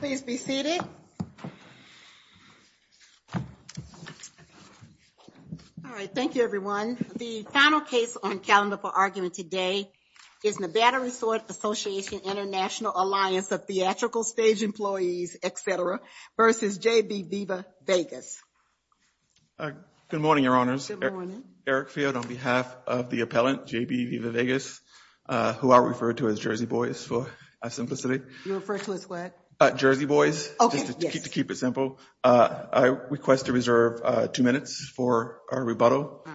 Please be seated. All right, thank you everyone. The final case on calendar for argument today is Nevada Resort Association-International Alliance of Theatrical Stage Employees, etc. versus J.B. Viva Vegas. Good morning, Your Honors. Good morning. Eric Field on behalf of the appellant, J.B. Viva Vegas, who I refer to as Jersey Boys for our simplicity. You refer to us what? Jersey Boys, just to keep it simple. I request to reserve two minutes for our rebuttal. All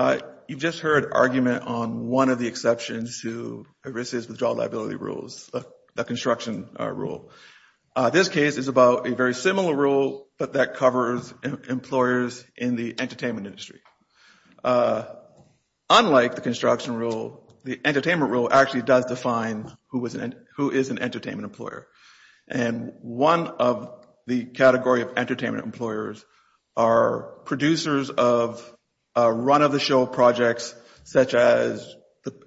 right. You've just heard argument on one of the exceptions to ERISA's withdrawal liability rules, the construction rule. This case is about a very similar rule, but that covers employers in the entertainment industry. Unlike the construction rule, the entertainment rule actually does define who is an entertainment employer. And one of the category of entertainment employers are producers of run-of-the-show projects, such as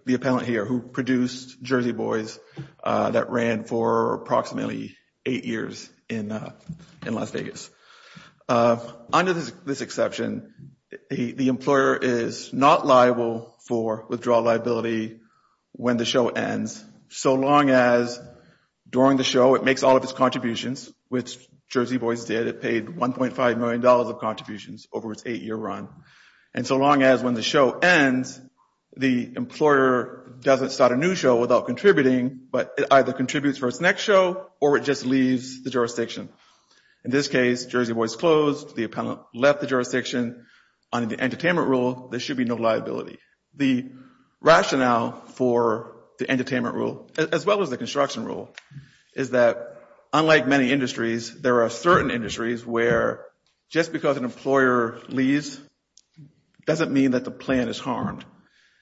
the appellant here who produced Jersey Boys that ran for approximately eight years in Las Vegas. Under this exception, the employer is not liable for withdrawal liability when the show ends, so long as during the show it makes all of its contributions, which Jersey Boys did. It paid 1.5 million dollars of contributions over its eight-year run. And so long as when the show ends, the employer doesn't start a new show without contributing, but it either contributes for its next show or it just leaves the jurisdiction. In this case, Jersey Boys closed. The appellant left the jurisdiction. Under the entertainment rule, there should be no liability. The rationale for the entertainment rule, as well as the construction rule, is that unlike many industries, there are certain industries where just because an employer leaves doesn't mean that the plan is harmed.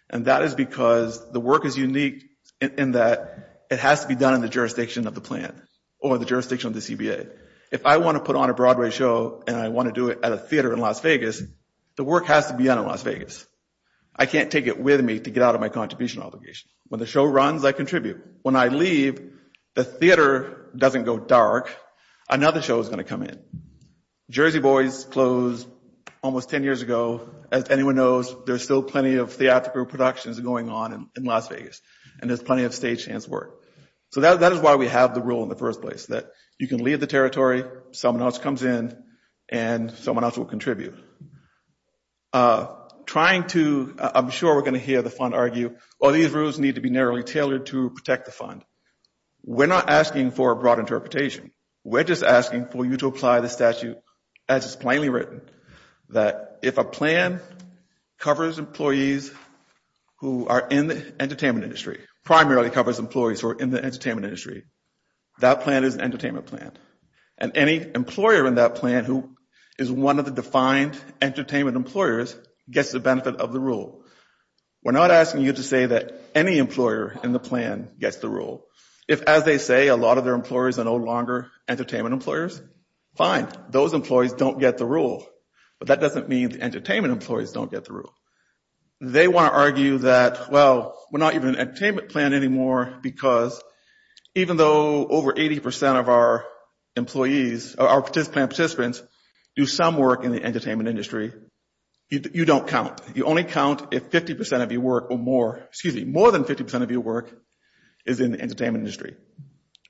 And that is because the work is unique in that it has to be done in the jurisdiction of the plan or the jurisdiction of the CBA. If I want to put on a Broadway show and I want to do it at a theater in Las Vegas, I can't take it with me to get out of my contribution obligation. When the show runs, I contribute. When I leave, the theater doesn't go dark. Another show is going to come in. Jersey Boys closed almost 10 years ago. As anyone knows, there's still plenty of theatrical productions going on in Las Vegas, and there's plenty of stagehands work. So that is why we have the rule in the first place that you can leave the territory, someone else comes in, and someone else will contribute. I'm sure we're going to hear the fund argue, well, these rules need to be narrowly tailored to protect the fund. We're not asking for a broad interpretation. We're just asking for you to apply the statute as it's plainly written, that if a plan covers employees who are in the entertainment industry, primarily covers employees who are in the entertainment industry, that plan is an entertainment plan. And any employer in that plan who is one of the defined entertainment employers gets the benefit of the rule. We're not asking you to say that any employer in the plan gets the rule. If, as they say, a lot of their employers are no longer entertainment employers, fine. Those employees don't get the rule. But that doesn't mean the entertainment employees don't get the rule. They want to argue that, well, we're not even an entertainment plan anymore because even though over 80% of our employees, our plan participants, do some work in the entertainment industry, you don't count. You only count if 50% of your work or more, excuse me, more than 50% of your work is in the entertainment industry.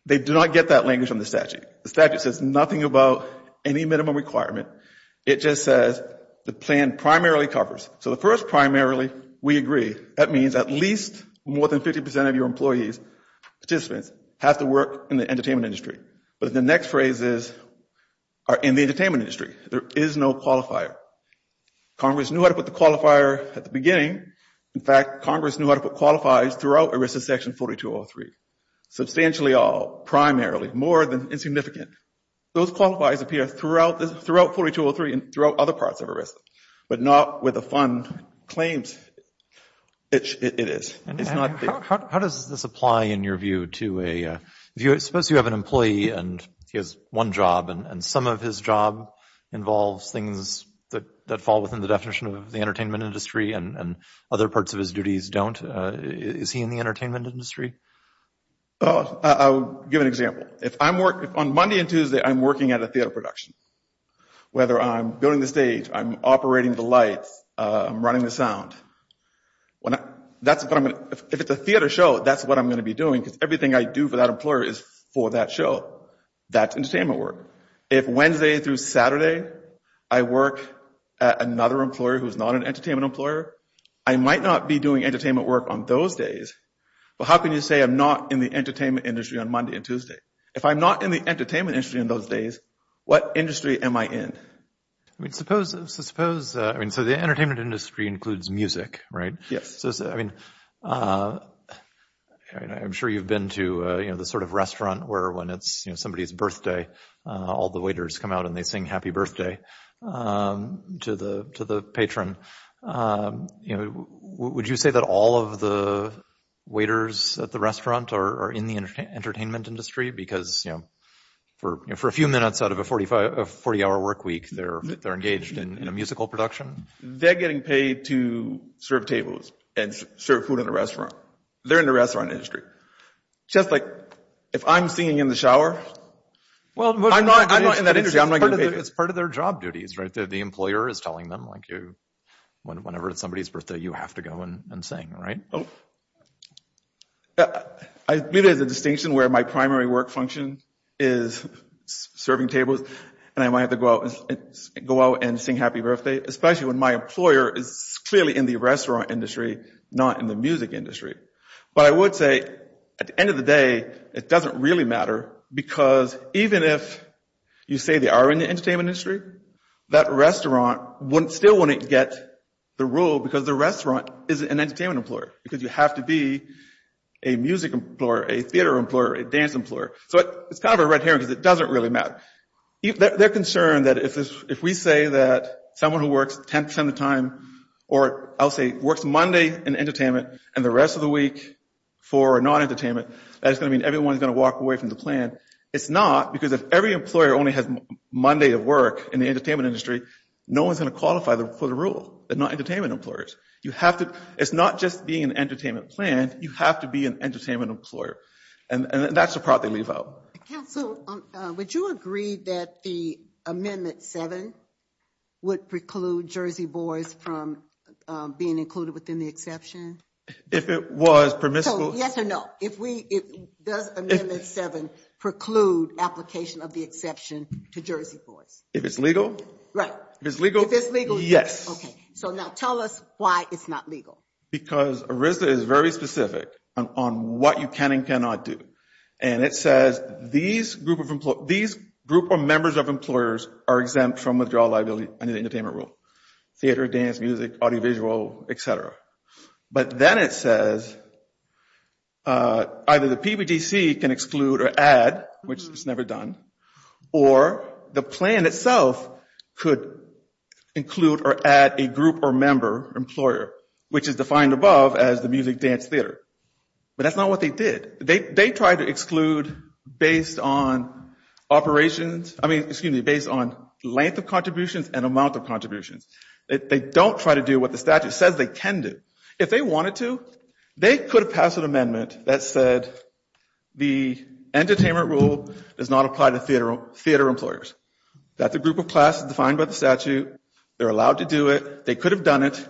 They do not get that language from the statute. The statute says nothing about any minimum requirement. It just says the plan primarily covers. So the first primarily, we agree, that means at least more than 50% of your employees, participants, have to work in the entertainment industry. But the next phrases are in the entertainment industry. There is no qualifier. Congress knew how to put the qualifier at the beginning. In fact, Congress knew how to put qualifies throughout ERISA section 4203. Substantially all, primarily, more than insignificant. Those qualifies appear throughout, throughout 4203 and throughout other parts of ERISA, but not with the fund claims it is. It's not the... And how does this apply in your view to a... Suppose you have an employee and he has one job and some of his job involves things that fall within the definition of the entertainment industry and other parts of his duties don't. Is he in the entertainment industry? Oh, I'll give an example. If I'm working, on Monday and Tuesday, I'm working at a theater production. Whether I'm building the stage, I'm operating the lights, I'm running the sound. If it's a theater show, that's what I'm going to be doing because everything I do for that employer is for that show. That's entertainment work. If Wednesday through Saturday, I work at another employer who's not an entertainment employer, I might not be doing entertainment work on those days, but how can you say I'm not in the entertainment industry on Monday and Tuesday? If I'm not in the entertainment industry in those days, what industry am I in? I mean, suppose... I mean, so the entertainment industry includes music, right? Yes. So I mean, I'm sure you've been to the sort of restaurant where when it's somebody's birthday, all the waiters come out and they sing happy birthday to the patron. Would you say that all of the waiters at the restaurant are in the entertainment industry? Because for a few minutes out of a 40-hour work week, they're engaged in a musical production? They're getting paid to serve tables and serve food in the restaurant. They're in the restaurant industry. Just like if I'm singing in the shower, I'm not in that industry. It's part of their job duties, right? The employer is telling them, like, whenever it's somebody's birthday, you have to go and sing, right? I believe there's a distinction where my primary work function is serving tables and I might have to go out and sing happy birthday, especially when my employer is clearly in the restaurant industry, not in the music industry. But I would say at the end of the day, it doesn't really matter because even if you say they are in the entertainment industry, that restaurant still wouldn't get the role because the restaurant is an entertainment employer. Because you have to be a music employer, a theater employer, a dance employer. So it's kind of a red herring because it doesn't really matter. They're concerned that if we say that someone who works 10% of the time or I'll say works Monday in entertainment and the rest of the week for non-entertainment, that's going to mean everyone's going to walk away from the plan. It's not because if every employer only has Monday to work in the entertainment industry, no one's going to qualify for the rule. They're not entertainment employers. It's not just being an entertainment plan. You have to be an entertainment employer. And that's the part they leave out. Council, would you agree that the Amendment 7 would preclude Jersey Boys from being included within the exception? If it was permissible? Yes or no. Does Amendment 7 preclude application of the exception to Jersey Boys? If it's legal? Right. If it's legal? If it's legal, yes. Okay. So now tell us why it's not legal. Because ERISDA is very specific on what you can and cannot do. And it says these group of members of employers are exempt from withdrawal liability under the entertainment rule. Theater, dance, music, audiovisual, etc. But then it says either the PBDC can exclude or add, which is never done, or the plan itself could include or add a group or member employer, which is defined above as the music, dance, theater. But that's not what they did. They tried to exclude based on operations. I mean, excuse me, based on length of contributions and amount of contributions. They don't try to do what the statute says they can do. If they wanted to, they could have passed an amendment that said the entertainment rule does not apply to theater employers. That's a group of classes defined by the statute. They're allowed to do it. They could have done it.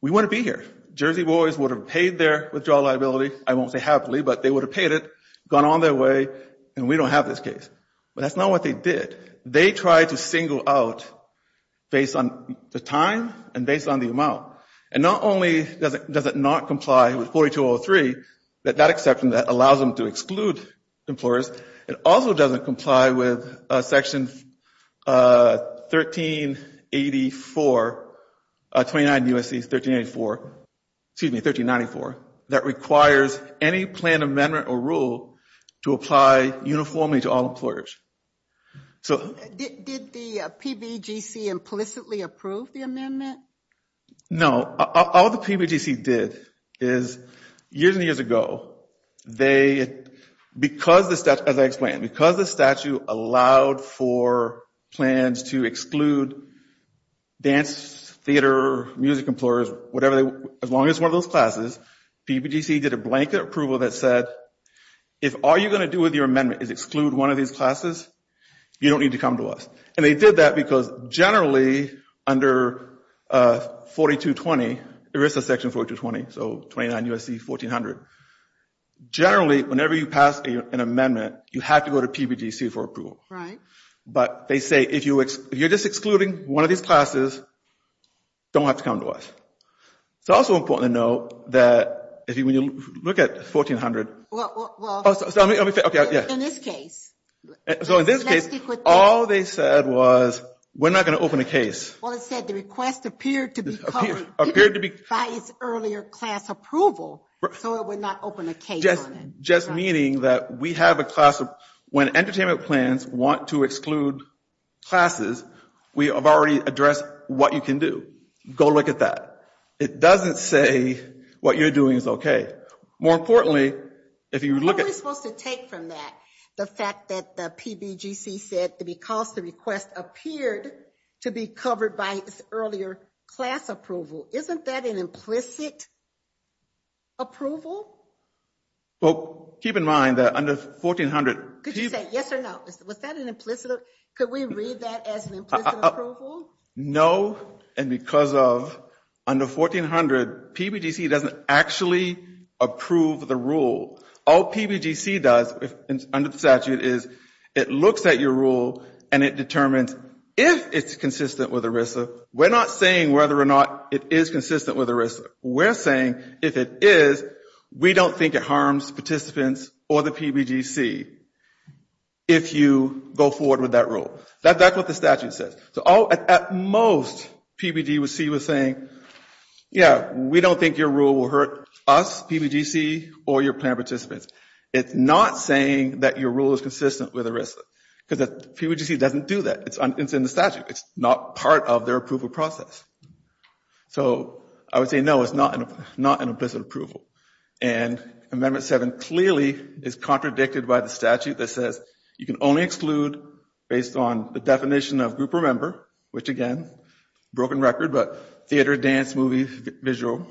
We wouldn't be here. Jersey Boys would have paid their withdrawal liability. I won't say happily, but they would have paid it, gone on their way, and we don't have this case. But that's not what they did. They tried to single out based on the time and based on the amount. And not only does it not comply with 4203, that that exception that allows them to exclude employers, it also doesn't comply with section 1384, 29 U.S.C. 1384, excuse me, 1394, that requires any plan amendment or rule to apply uniformly to all employers. So did the PBGC implicitly approve the amendment? No, all the PBGC did is years and years ago, they, because the statute, as I explained, because the statute allowed for plans to exclude dance, theater, music employers, whatever, as long as one of those classes, PBGC did a blanket approval that said, if all you're going to do with your amendment is exclude one of these classes, you don't need to come to us. And they did that because generally under 4220, there is a section 4220, so 29 U.S.C. 1400. Generally, whenever you pass an amendment, you have to go to PBGC for approval. Right. But they say, if you're just excluding one of these classes, don't have to come to us. It's also important to note that if you look at 1400. Well, well, well. Oh, so let me, okay, yeah. In this case. So in this case, all they said was, we're not going to open a case. Well, it said the request appeared to be covered by its earlier class approval, so it would not open a case on it. Just meaning that we have a class of, when entertainment plans want to exclude classes, we have already addressed what you can do. Go look at that. It doesn't say what you're doing is okay. More importantly, if you look at. Who is supposed to take from that? The fact that the PBGC said, because the request appeared to be covered by its earlier class approval. Isn't that an implicit approval? Well, keep in mind that under 1400. Could you say yes or no? Was that an implicit? Could we read that as an implicit approval? No, and because of under 1400, PBGC doesn't actually approve the rule. All PBGC does under the statute is it looks at your rule and it determines if it's consistent with ERISA. We're not saying whether or not it is consistent with ERISA. We're saying if it is, we don't think it harms participants or the PBGC if you go forward with that rule. That's what the statute says. So at most, PBGC was saying, yeah, we don't think your rule will hurt us, PBGC or your planned participants. It's not saying that your rule is consistent with ERISA because the PBGC doesn't do that. It's in the statute. It's not part of their approval process. So I would say no, it's not an implicit approval. And Amendment 7 clearly is contradicted by the statute that says you can only exclude based on the definition of group or member, which again, broken record, but theater, dance, movie, visual,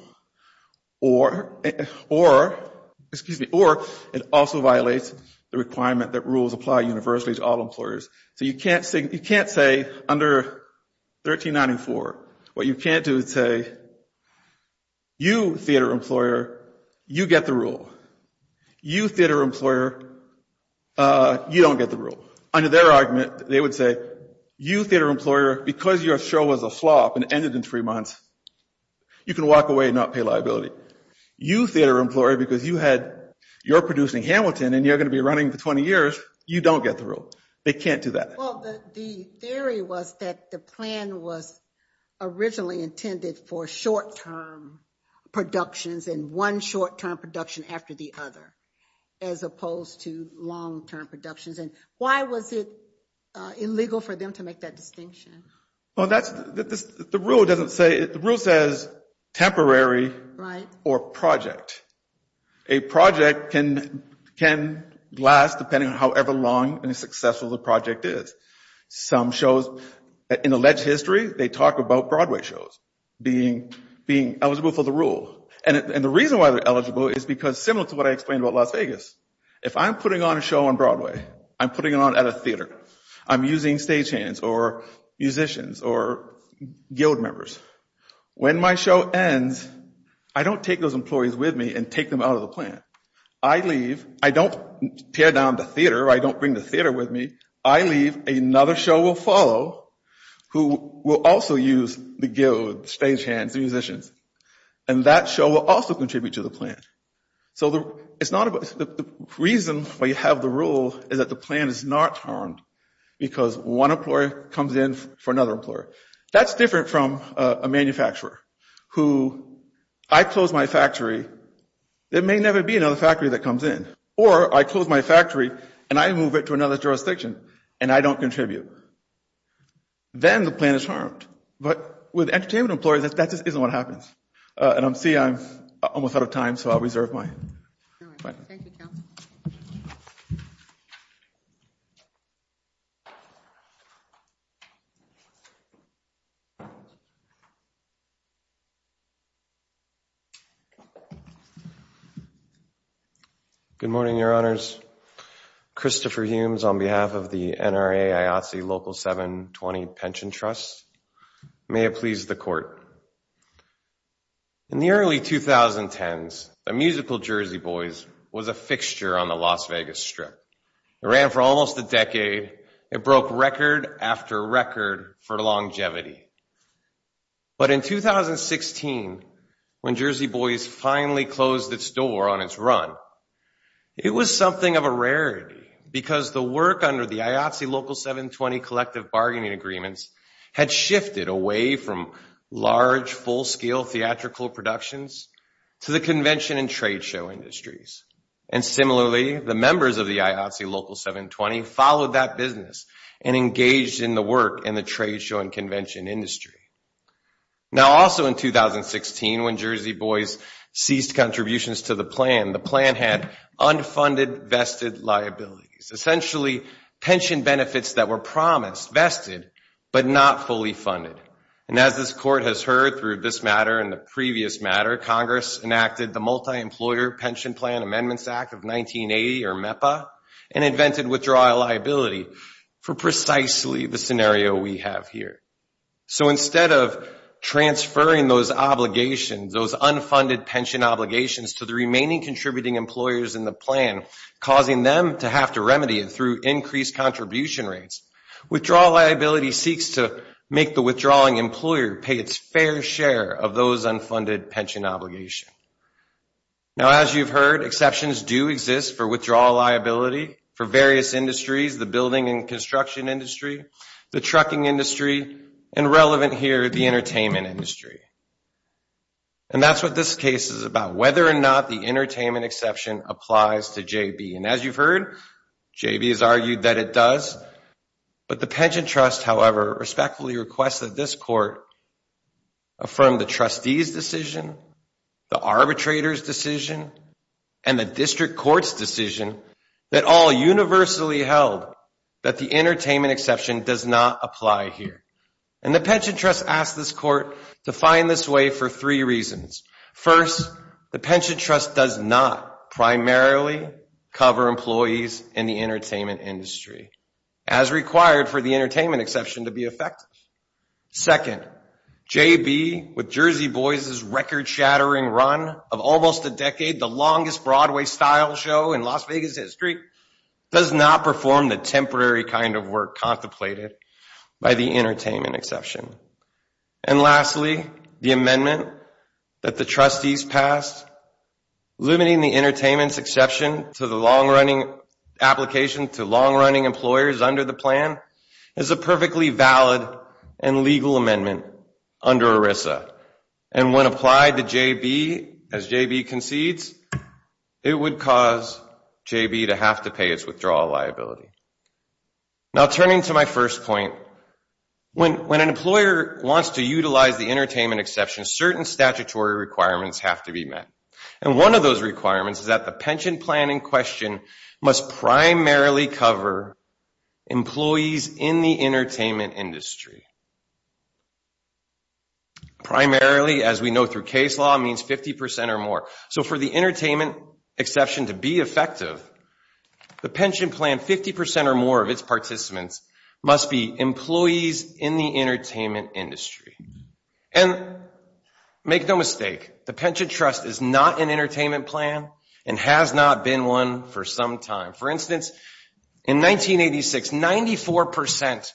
or it also violates the requirement that rules apply universally to all employers. So you can't say under 1394, what you can't do is say, you theater employer, you get the rule. You theater employer, you don't get the rule. Under their argument, they would say, you theater employer, because your show was a flop and ended in three months, you can walk away and not pay liability. You theater employer, because you're producing Hamilton and you're going to be running for 20 years, you don't get the rule. They can't do that. Well, the theory was that the plan was originally intended for short-term productions and one short-term production after the other, as opposed to long-term productions. And why was it illegal for them to make that distinction? Well, the rule says temporary or project. A project can last depending on however long and successful the project is. Some shows in alleged history, they talk about Broadway shows being eligible for the rule. And the reason why they're eligible is because similar to what I explained about Las Vegas, if I'm putting on a show on Broadway, I'm putting it on at a theater, I'm using stagehands or musicians or guild members. When my show ends, I don't take those employees with me and take them out of the plan. I leave. I don't tear down the theater. I don't bring the theater with me. I leave. Another show will follow who will also use the guild, stagehands, musicians. And that show will also contribute to the plan. So the reason we have the rule is that the plan is not harmed because one employer comes in for another employer. That's different from a manufacturer who, I close my factory, there may never be another factory that comes in. Or I close my factory and I move it to another jurisdiction and I don't contribute. Then the plan is harmed. But with entertainment employees, that just isn't what happens. And I'm seeing I'm almost out of time. So I'll reserve my time. Thank you, Kevin. Good morning, your honors. Christopher Humes on behalf of the NRA IATSE Local 720 Pension Trust. May it please the court. In the early 2010s, the musical Jersey Boys was a fixture on the Las Vegas strip. It ran for almost a decade. It broke record after record for longevity. But in 2016, when Jersey Boys finally closed its door on its run, it was something of a rarity because the work under the IATSE Local 720 Collective Bargaining Agreements had shifted away from large, full-scale theatrical productions to the convention and trade show industries. And similarly, the members of the IATSE Local 720 followed that business and engaged in the work in the trade show and convention industry. Now, also in 2016, when Jersey Boys ceased contributions to the plan, the plan had unfunded vested liabilities. Essentially, pension benefits that were promised, vested, but not fully funded. And as this court has heard through this matter and the previous matter, Congress enacted the Multi-Employer Pension Plan Amendments Act of 1980, or MEPA, and invented withdrawal liability for precisely the scenario we have here. So instead of transferring those obligations, those unfunded pension obligations to the remaining contributing employers in the plan, causing them to have to remedy it through increased contribution rates, withdrawal liability seeks to make the withdrawing employer pay its fair share of those unfunded pension obligation. Now, as you've heard, exceptions do exist for withdrawal liability for various industries, the building and construction industry, the trucking industry, and relevant here, the entertainment industry. And that's what this case is about, whether or not the entertainment exception applies to J.B. And as you've heard, J.B. has argued that it does. But the Pension Trust, however, respectfully requests that this court affirm the trustee's decision, the arbitrator's decision, and the district court's decision that all universally held that the entertainment exception does not apply here. And the Pension Trust asked this court to find this way for three reasons. First, the Pension Trust does not primarily cover employees in the entertainment industry as required for the entertainment exception to be effective. Second, J.B., with Jersey Boys' record-shattering run of almost a decade, the longest Broadway style show in Las Vegas history, does not perform the temporary kind of work contemplated by the entertainment exception. And lastly, the amendment that the trustees passed, limiting the entertainment exception to the long-running application to long-running employers under the plan is a perfectly valid and legal amendment under ERISA. And when applied to J.B., as J.B. concedes, it would cause J.B. to have to pay its withdrawal liability. Now, turning to my first point, when an employer wants to utilize the entertainment exception, certain statutory requirements have to be met. And one of those requirements is that the pension plan in question must primarily cover employees in the entertainment industry. Primarily, as we know through case law, means 50% or more. So for the entertainment exception to be effective, the pension plan 50% or more of its participants must be employees in the entertainment industry. And make no mistake, the pension trust is not an entertainment plan and has not been one for some time. For instance, in 1986, 94%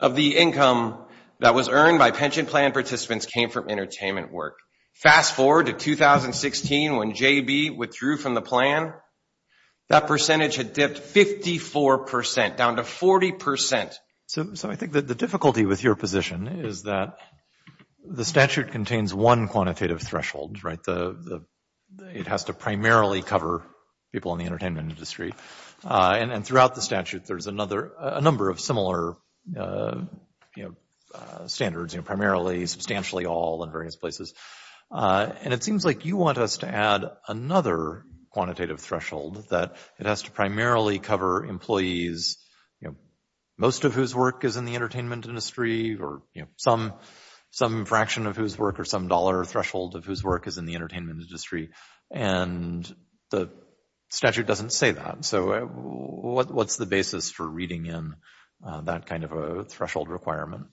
of the income that was earned by pension plan participants came from entertainment work. Fast forward to 2016 when J.B. withdrew from the plan that percentage had dipped 54%, down to 40%. So I think that the difficulty with your position is that the statute contains one quantitative threshold, right? It has to primarily cover people in the entertainment industry. And throughout the statute, there's a number of similar standards, primarily, substantially, all in various places. And it seems like you want us to add another quantitative threshold that it has to primarily cover employees, you know, most of whose work is in the entertainment industry or, you know, some fraction of whose work or some dollar threshold of whose work is in the entertainment industry. And the statute doesn't say that. So what's the basis for reading in that kind of a threshold requirement?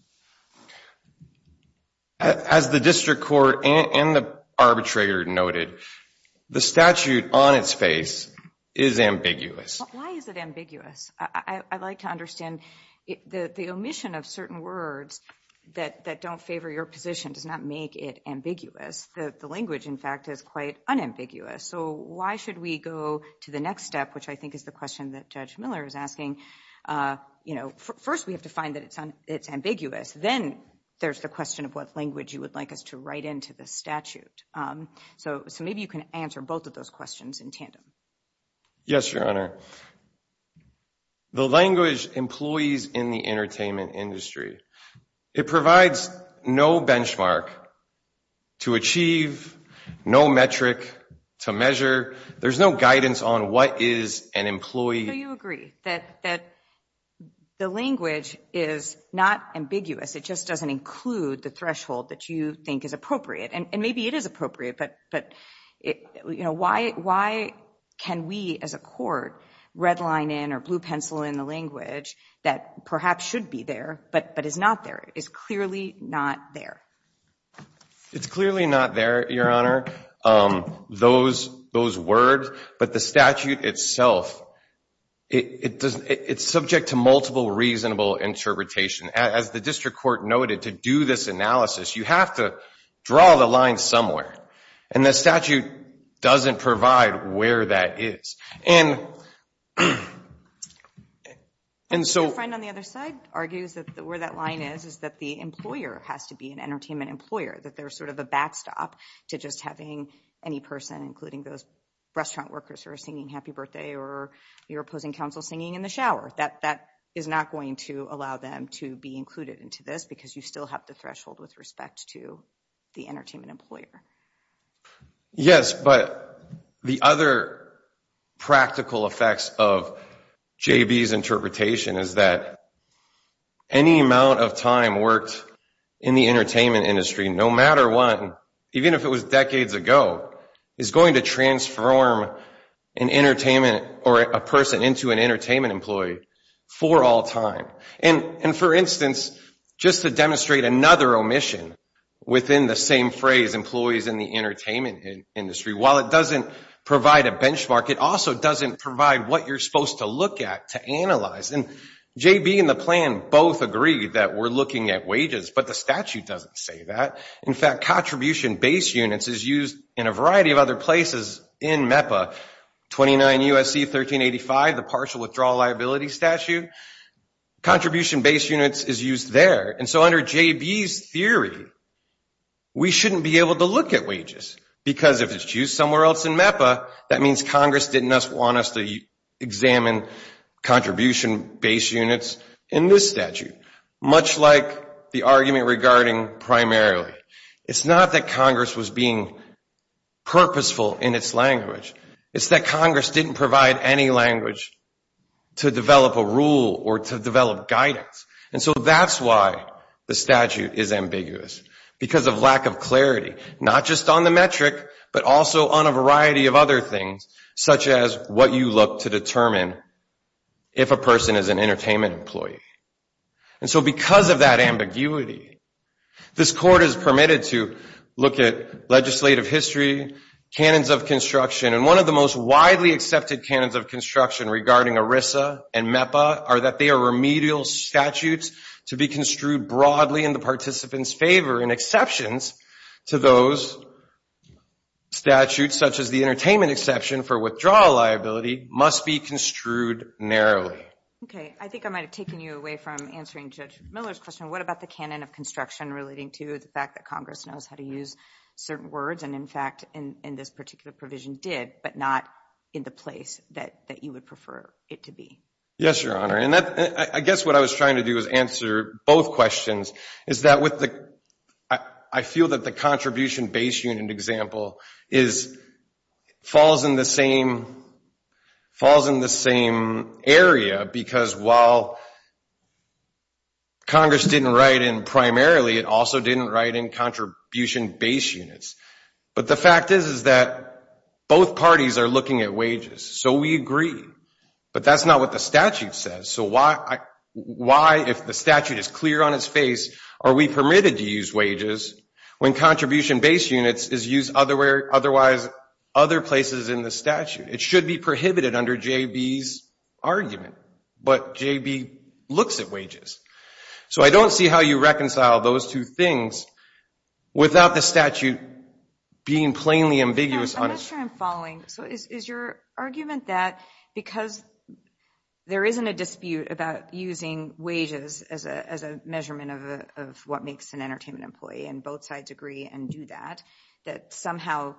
As the district court and the arbitrator noted, the statute on its face is ambiguous. Why is it ambiguous? I'd like to understand the omission of certain words that don't favor your position does not make it ambiguous. The language, in fact, is quite unambiguous. So why should we go to the next step, which I think is the question that Judge Miller is asking? You know, first, we have to find that it's ambiguous. Then there's the question of what language you would like us to write into the statute. So maybe you can answer both of those questions in tandem. Yes, Your Honor. The language, employees in the entertainment industry, it provides no benchmark to achieve, no metric to measure. There's no guidance on what is an employee. So you agree that the language is not ambiguous. It just doesn't include the threshold that you think is appropriate. And maybe it is appropriate, but why can we as a court red line in or blue pencil in the language that perhaps should be there but is not there, is clearly not there? It's clearly not there, Your Honor, those words. But the statute itself, it's subject to multiple reasonable interpretation. As the district court noted, to do this analysis, you have to draw the line somewhere. And the statute doesn't provide where that is. And so— Your friend on the other side argues that where that line is, is that the employer has to be an entertainment employer, that there's sort of a backstop to just having any person, including those restaurant workers who are singing happy birthday or your opposing counsel singing in the shower, that that is not going to allow them to be included into this because you still have the threshold with respect to the entertainment employer. Yes, but the other practical effects of J.B.'s interpretation is that any amount of time worked in the entertainment industry, no matter what, even if it was decades ago, is going to transform an entertainment or a person into an entertainment employee for all time. And for instance, just to demonstrate another omission within the same phrase, employees in the entertainment industry, while it doesn't provide a benchmark, it also doesn't provide what you're supposed to look at to analyze. And J.B. and the plan both agree that we're looking at wages, but the statute doesn't say that. In fact, contribution base units is used in a variety of other places in MEPA, 29 U.S.C. 1385, the partial withdrawal liability statute. Contribution base units is used there. And so under J.B.'s theory, we shouldn't be able to look at wages because if it's used somewhere else in MEPA, that means Congress didn't want us to examine contribution base units in this statute, much like the argument regarding primarily. It's not that Congress was being purposeful in its language. It's that Congress didn't provide any language to develop a rule or to develop guidance. And so that's why the statute is ambiguous, because of lack of clarity, not just on the metric, but also on a variety of other things, such as what you look to determine if a person is an entertainment employee. So because of that ambiguity, this court is permitted to look at legislative history, canons of construction, and one of the most widely accepted canons of construction regarding ERISA and MEPA are that they are remedial statutes to be construed broadly in the participant's favor, and exceptions to those statutes, such as the entertainment exception for withdrawal liability, must be construed narrowly. Okay, I think I might have taken you away from answering Judge Miller's question. What about the canon of construction relating to the fact that Congress knows how to use certain words, and in fact, in this particular provision did, but not in the place that you would prefer it to be? Yes, Your Honor, and I guess what I was trying to do is answer both questions, is that I feel that the contribution base unit example is falls in the same area because while Congress didn't write in primarily, it also didn't write in contribution base units, but the fact is that both parties are looking at wages, so we agree, but that's not what the statute says. So why, if the statute is clear on its face, are we permitted to use wages when contribution base units is used otherwise other places in the statute? It should be prohibited under J.B.'s argument, but J.B. looks at wages. So I don't see how you reconcile those two things without the statute being plainly ambiguous. I'm not sure I'm following. So is your argument that because there isn't a dispute about using wages as a measurement of what makes an entertainment employee, and both sides agree and do that, that somehow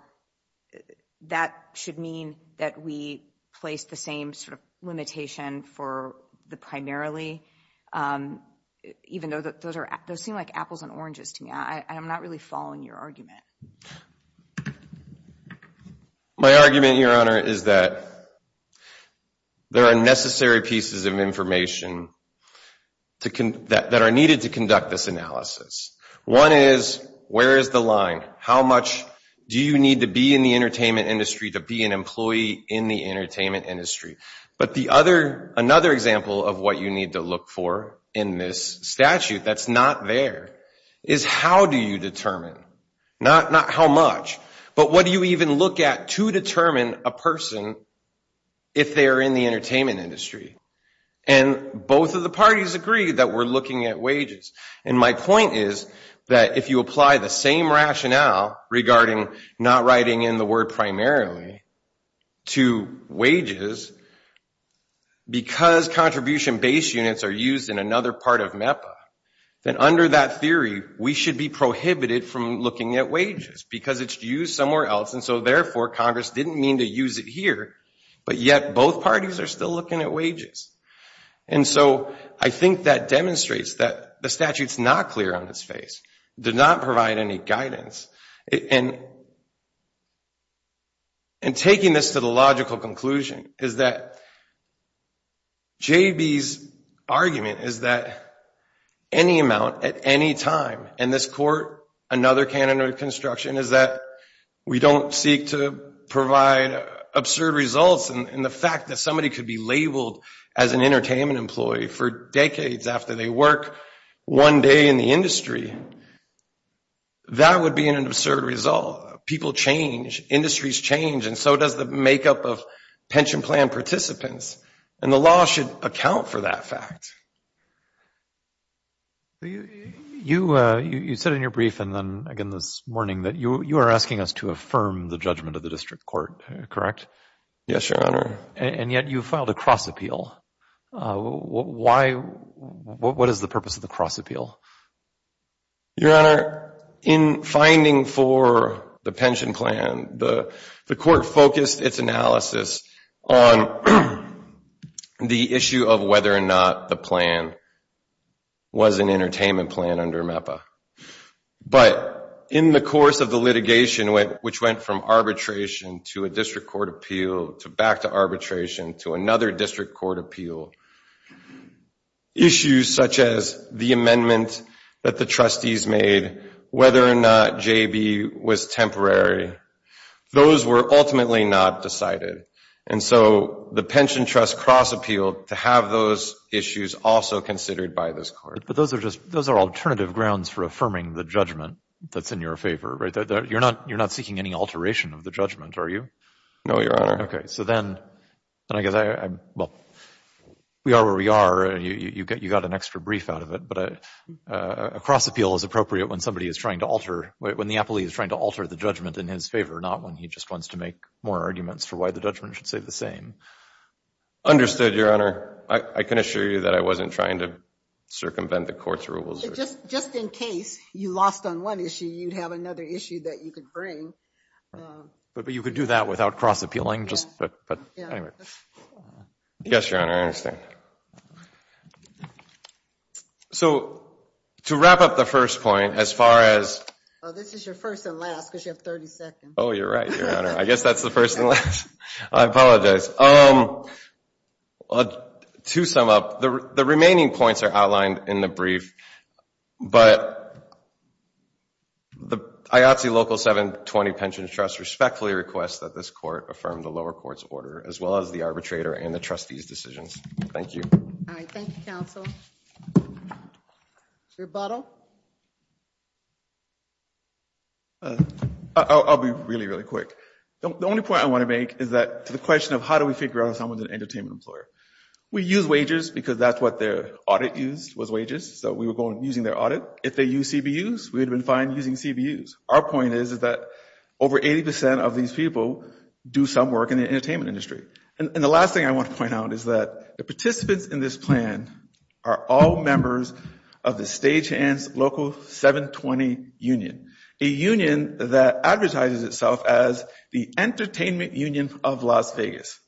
that should mean that we place the same sort of limitation for the primarily, even though those seem like apples and oranges to me. I'm not really following your argument. My argument, Your Honor, is that there are necessary pieces of information that are needed to conduct this analysis. One is, where is the line? How much do you need to be in the entertainment industry to be an employee in the entertainment industry? But another example of what you need to look for in this statute that's not there is how do you determine, not how much, but what do you even look at to determine a person if they're in the entertainment industry? And both of the parties agree that we're looking at wages. And my point is that if you apply the same rationale regarding not writing in the word primarily to wages, because contribution-based units are used in another part of MEPA, then under that theory, we should be prohibited from looking at wages because it's used somewhere else. And so therefore, Congress didn't mean to use it here, but yet both parties are still looking at wages. And so I think that demonstrates that the statute's not clear on its face, did not provide any guidance. And taking this to the logical conclusion is that J.B.'s argument is that any amount at any time, in this court, another canon of construction is that we don't seek to provide absurd results in the fact that somebody could be labeled as an entertainment employee for decades after they work one day in the industry. That would be an absurd result. People change. Industries change. And so does the makeup of pension plan participants. And the law should account for that fact. You said in your brief and then again this morning that you are asking us to affirm the judgment of the district court, correct? Yes, Your Honor. And yet you filed a cross appeal. What is the purpose of the cross appeal? Your Honor, in finding for the pension plan, the court focused its analysis on the issue of whether or not the plan was an entertainment plan under MEPA. But in the course of the litigation, which went from arbitration to a district court appeal to back to arbitration to another district court appeal, issues such as the amendment that the trustees made, whether or not JB was temporary, those were ultimately not decided. And so the pension trust cross appealed to have those issues also considered by this court. But those are just, those are alternative grounds for affirming the judgment that's in your favor, right? You're not seeking any alteration of the judgment, are you? No, Your Honor. So then, I guess, well, we are where we are. You got an extra brief out of it. But a cross appeal is appropriate when somebody is trying to alter, when the appellee is trying to alter the judgment in his favor, not when he just wants to make more arguments for why the judgment should stay the same. Understood, Your Honor. I can assure you that I wasn't trying to circumvent the court's rules. Just in case you lost on one issue, you'd have another issue that you could bring. But you could do that without cross appealing, just... Yes, Your Honor, I understand. So to wrap up the first point, as far as... This is your first and last, because you have 30 seconds. Oh, you're right, Your Honor. I guess that's the first and last. I apologize. To sum up, the remaining points are outlined in the brief. But the IATSE Local 720 Pensions Trust respectfully requests that this court affirm the lower court's order, as well as the arbitrator and the trustee's decisions. Thank you. All right, thank you, counsel. Your rebuttal. I'll be really, really quick. The only point I want to make is that to the question of how do we figure out if someone's an entertainment employer. We use wages because that's what their audit used was wages. We were using their audit. If they use CBUs, we'd have been fine using CBUs. Our point is that over 80% of these people do some work in the entertainment industry. And the last thing I want to point out is that the participants in this plan are all members of the Stagehands Local 720 Union, a union that advertises itself as the entertainment union of Las Vegas.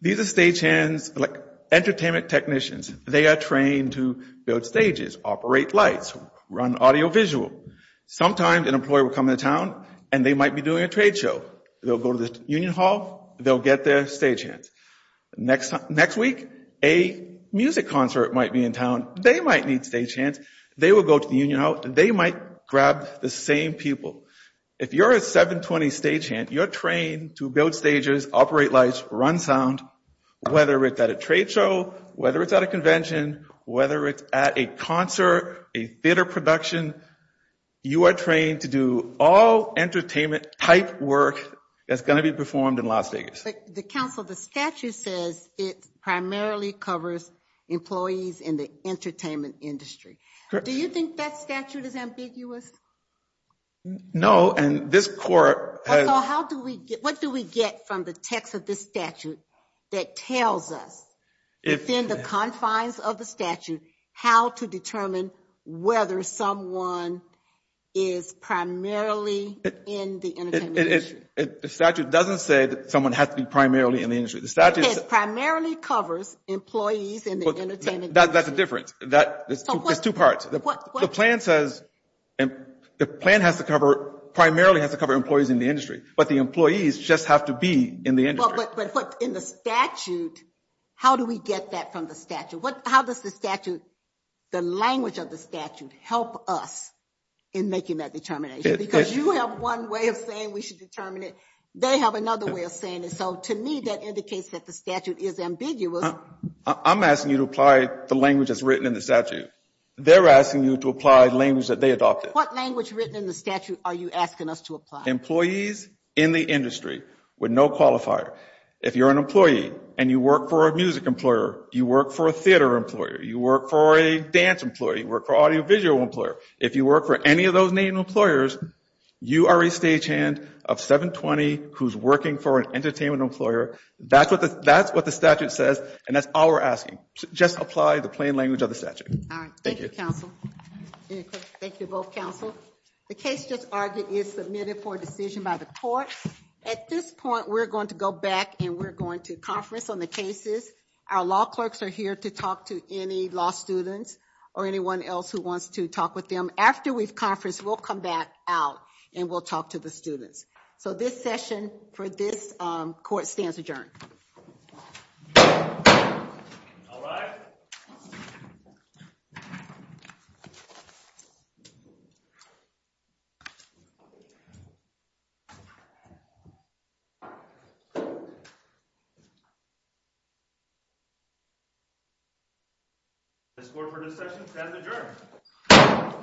These are stagehands, like entertainment technicians. They are trained to build stages, operate lights, run audiovisual. Sometimes an employer will come into town and they might be doing a trade show. They'll go to the union hall. They'll get their stagehands. Next week, a music concert might be in town. They might need stagehands. They will go to the union hall. They might grab the same people. If you're a 720 stagehand, you're trained to build stages, operate lights, run sound, whether it's at a trade show, whether it's at a convention, whether it's at a concert, a theater production. You are trained to do all entertainment type work that's going to be performed in Las Vegas. But the council, the statute says it primarily covers employees in the entertainment industry. Do you think that statute is ambiguous? No, and this court has... What do we get from the text of this statute that tells us, within the confines of the statute, how to determine whether someone is primarily in the entertainment industry? The statute doesn't say that someone has to be primarily in the industry. The statute says... Primarily covers employees in the entertainment industry. That's a difference. There's two parts. The plan says the plan has to cover... Primarily has to cover employees in the industry, but the employees just have to be in the industry. But in the statute, how do we get that from the statute? How does the statute, the language of the statute, help us in making that determination? Because you have one way of saying we should determine it. They have another way of saying it. So to me, that indicates that the statute is ambiguous. I'm asking you to apply the language that's written in the statute. They're asking you to apply the language that they adopted. What language written in the statute are you asking us to apply? Employees in the industry with no qualifier. If you're an employee and you work for a music employer, you work for a theater employer, you work for a dance employee, work for audiovisual employer. If you work for any of those main employers, you are a stagehand of 720 who's working for an entertainment employer. That's what the statute says, and that's all we're asking. Just apply the plain language of the statute. Thank you, counsel. Thank you, both counsel. The case just argued is submitted for decision by the court. At this point, we're going to go back and we're going to conference on the cases. Our law clerks are here to talk to any law students or anyone else who wants to talk with them. After we've conferenced, we'll come back out and we'll talk to the students. So this session for this court stands adjourned. All rise. This court for this session stands adjourned.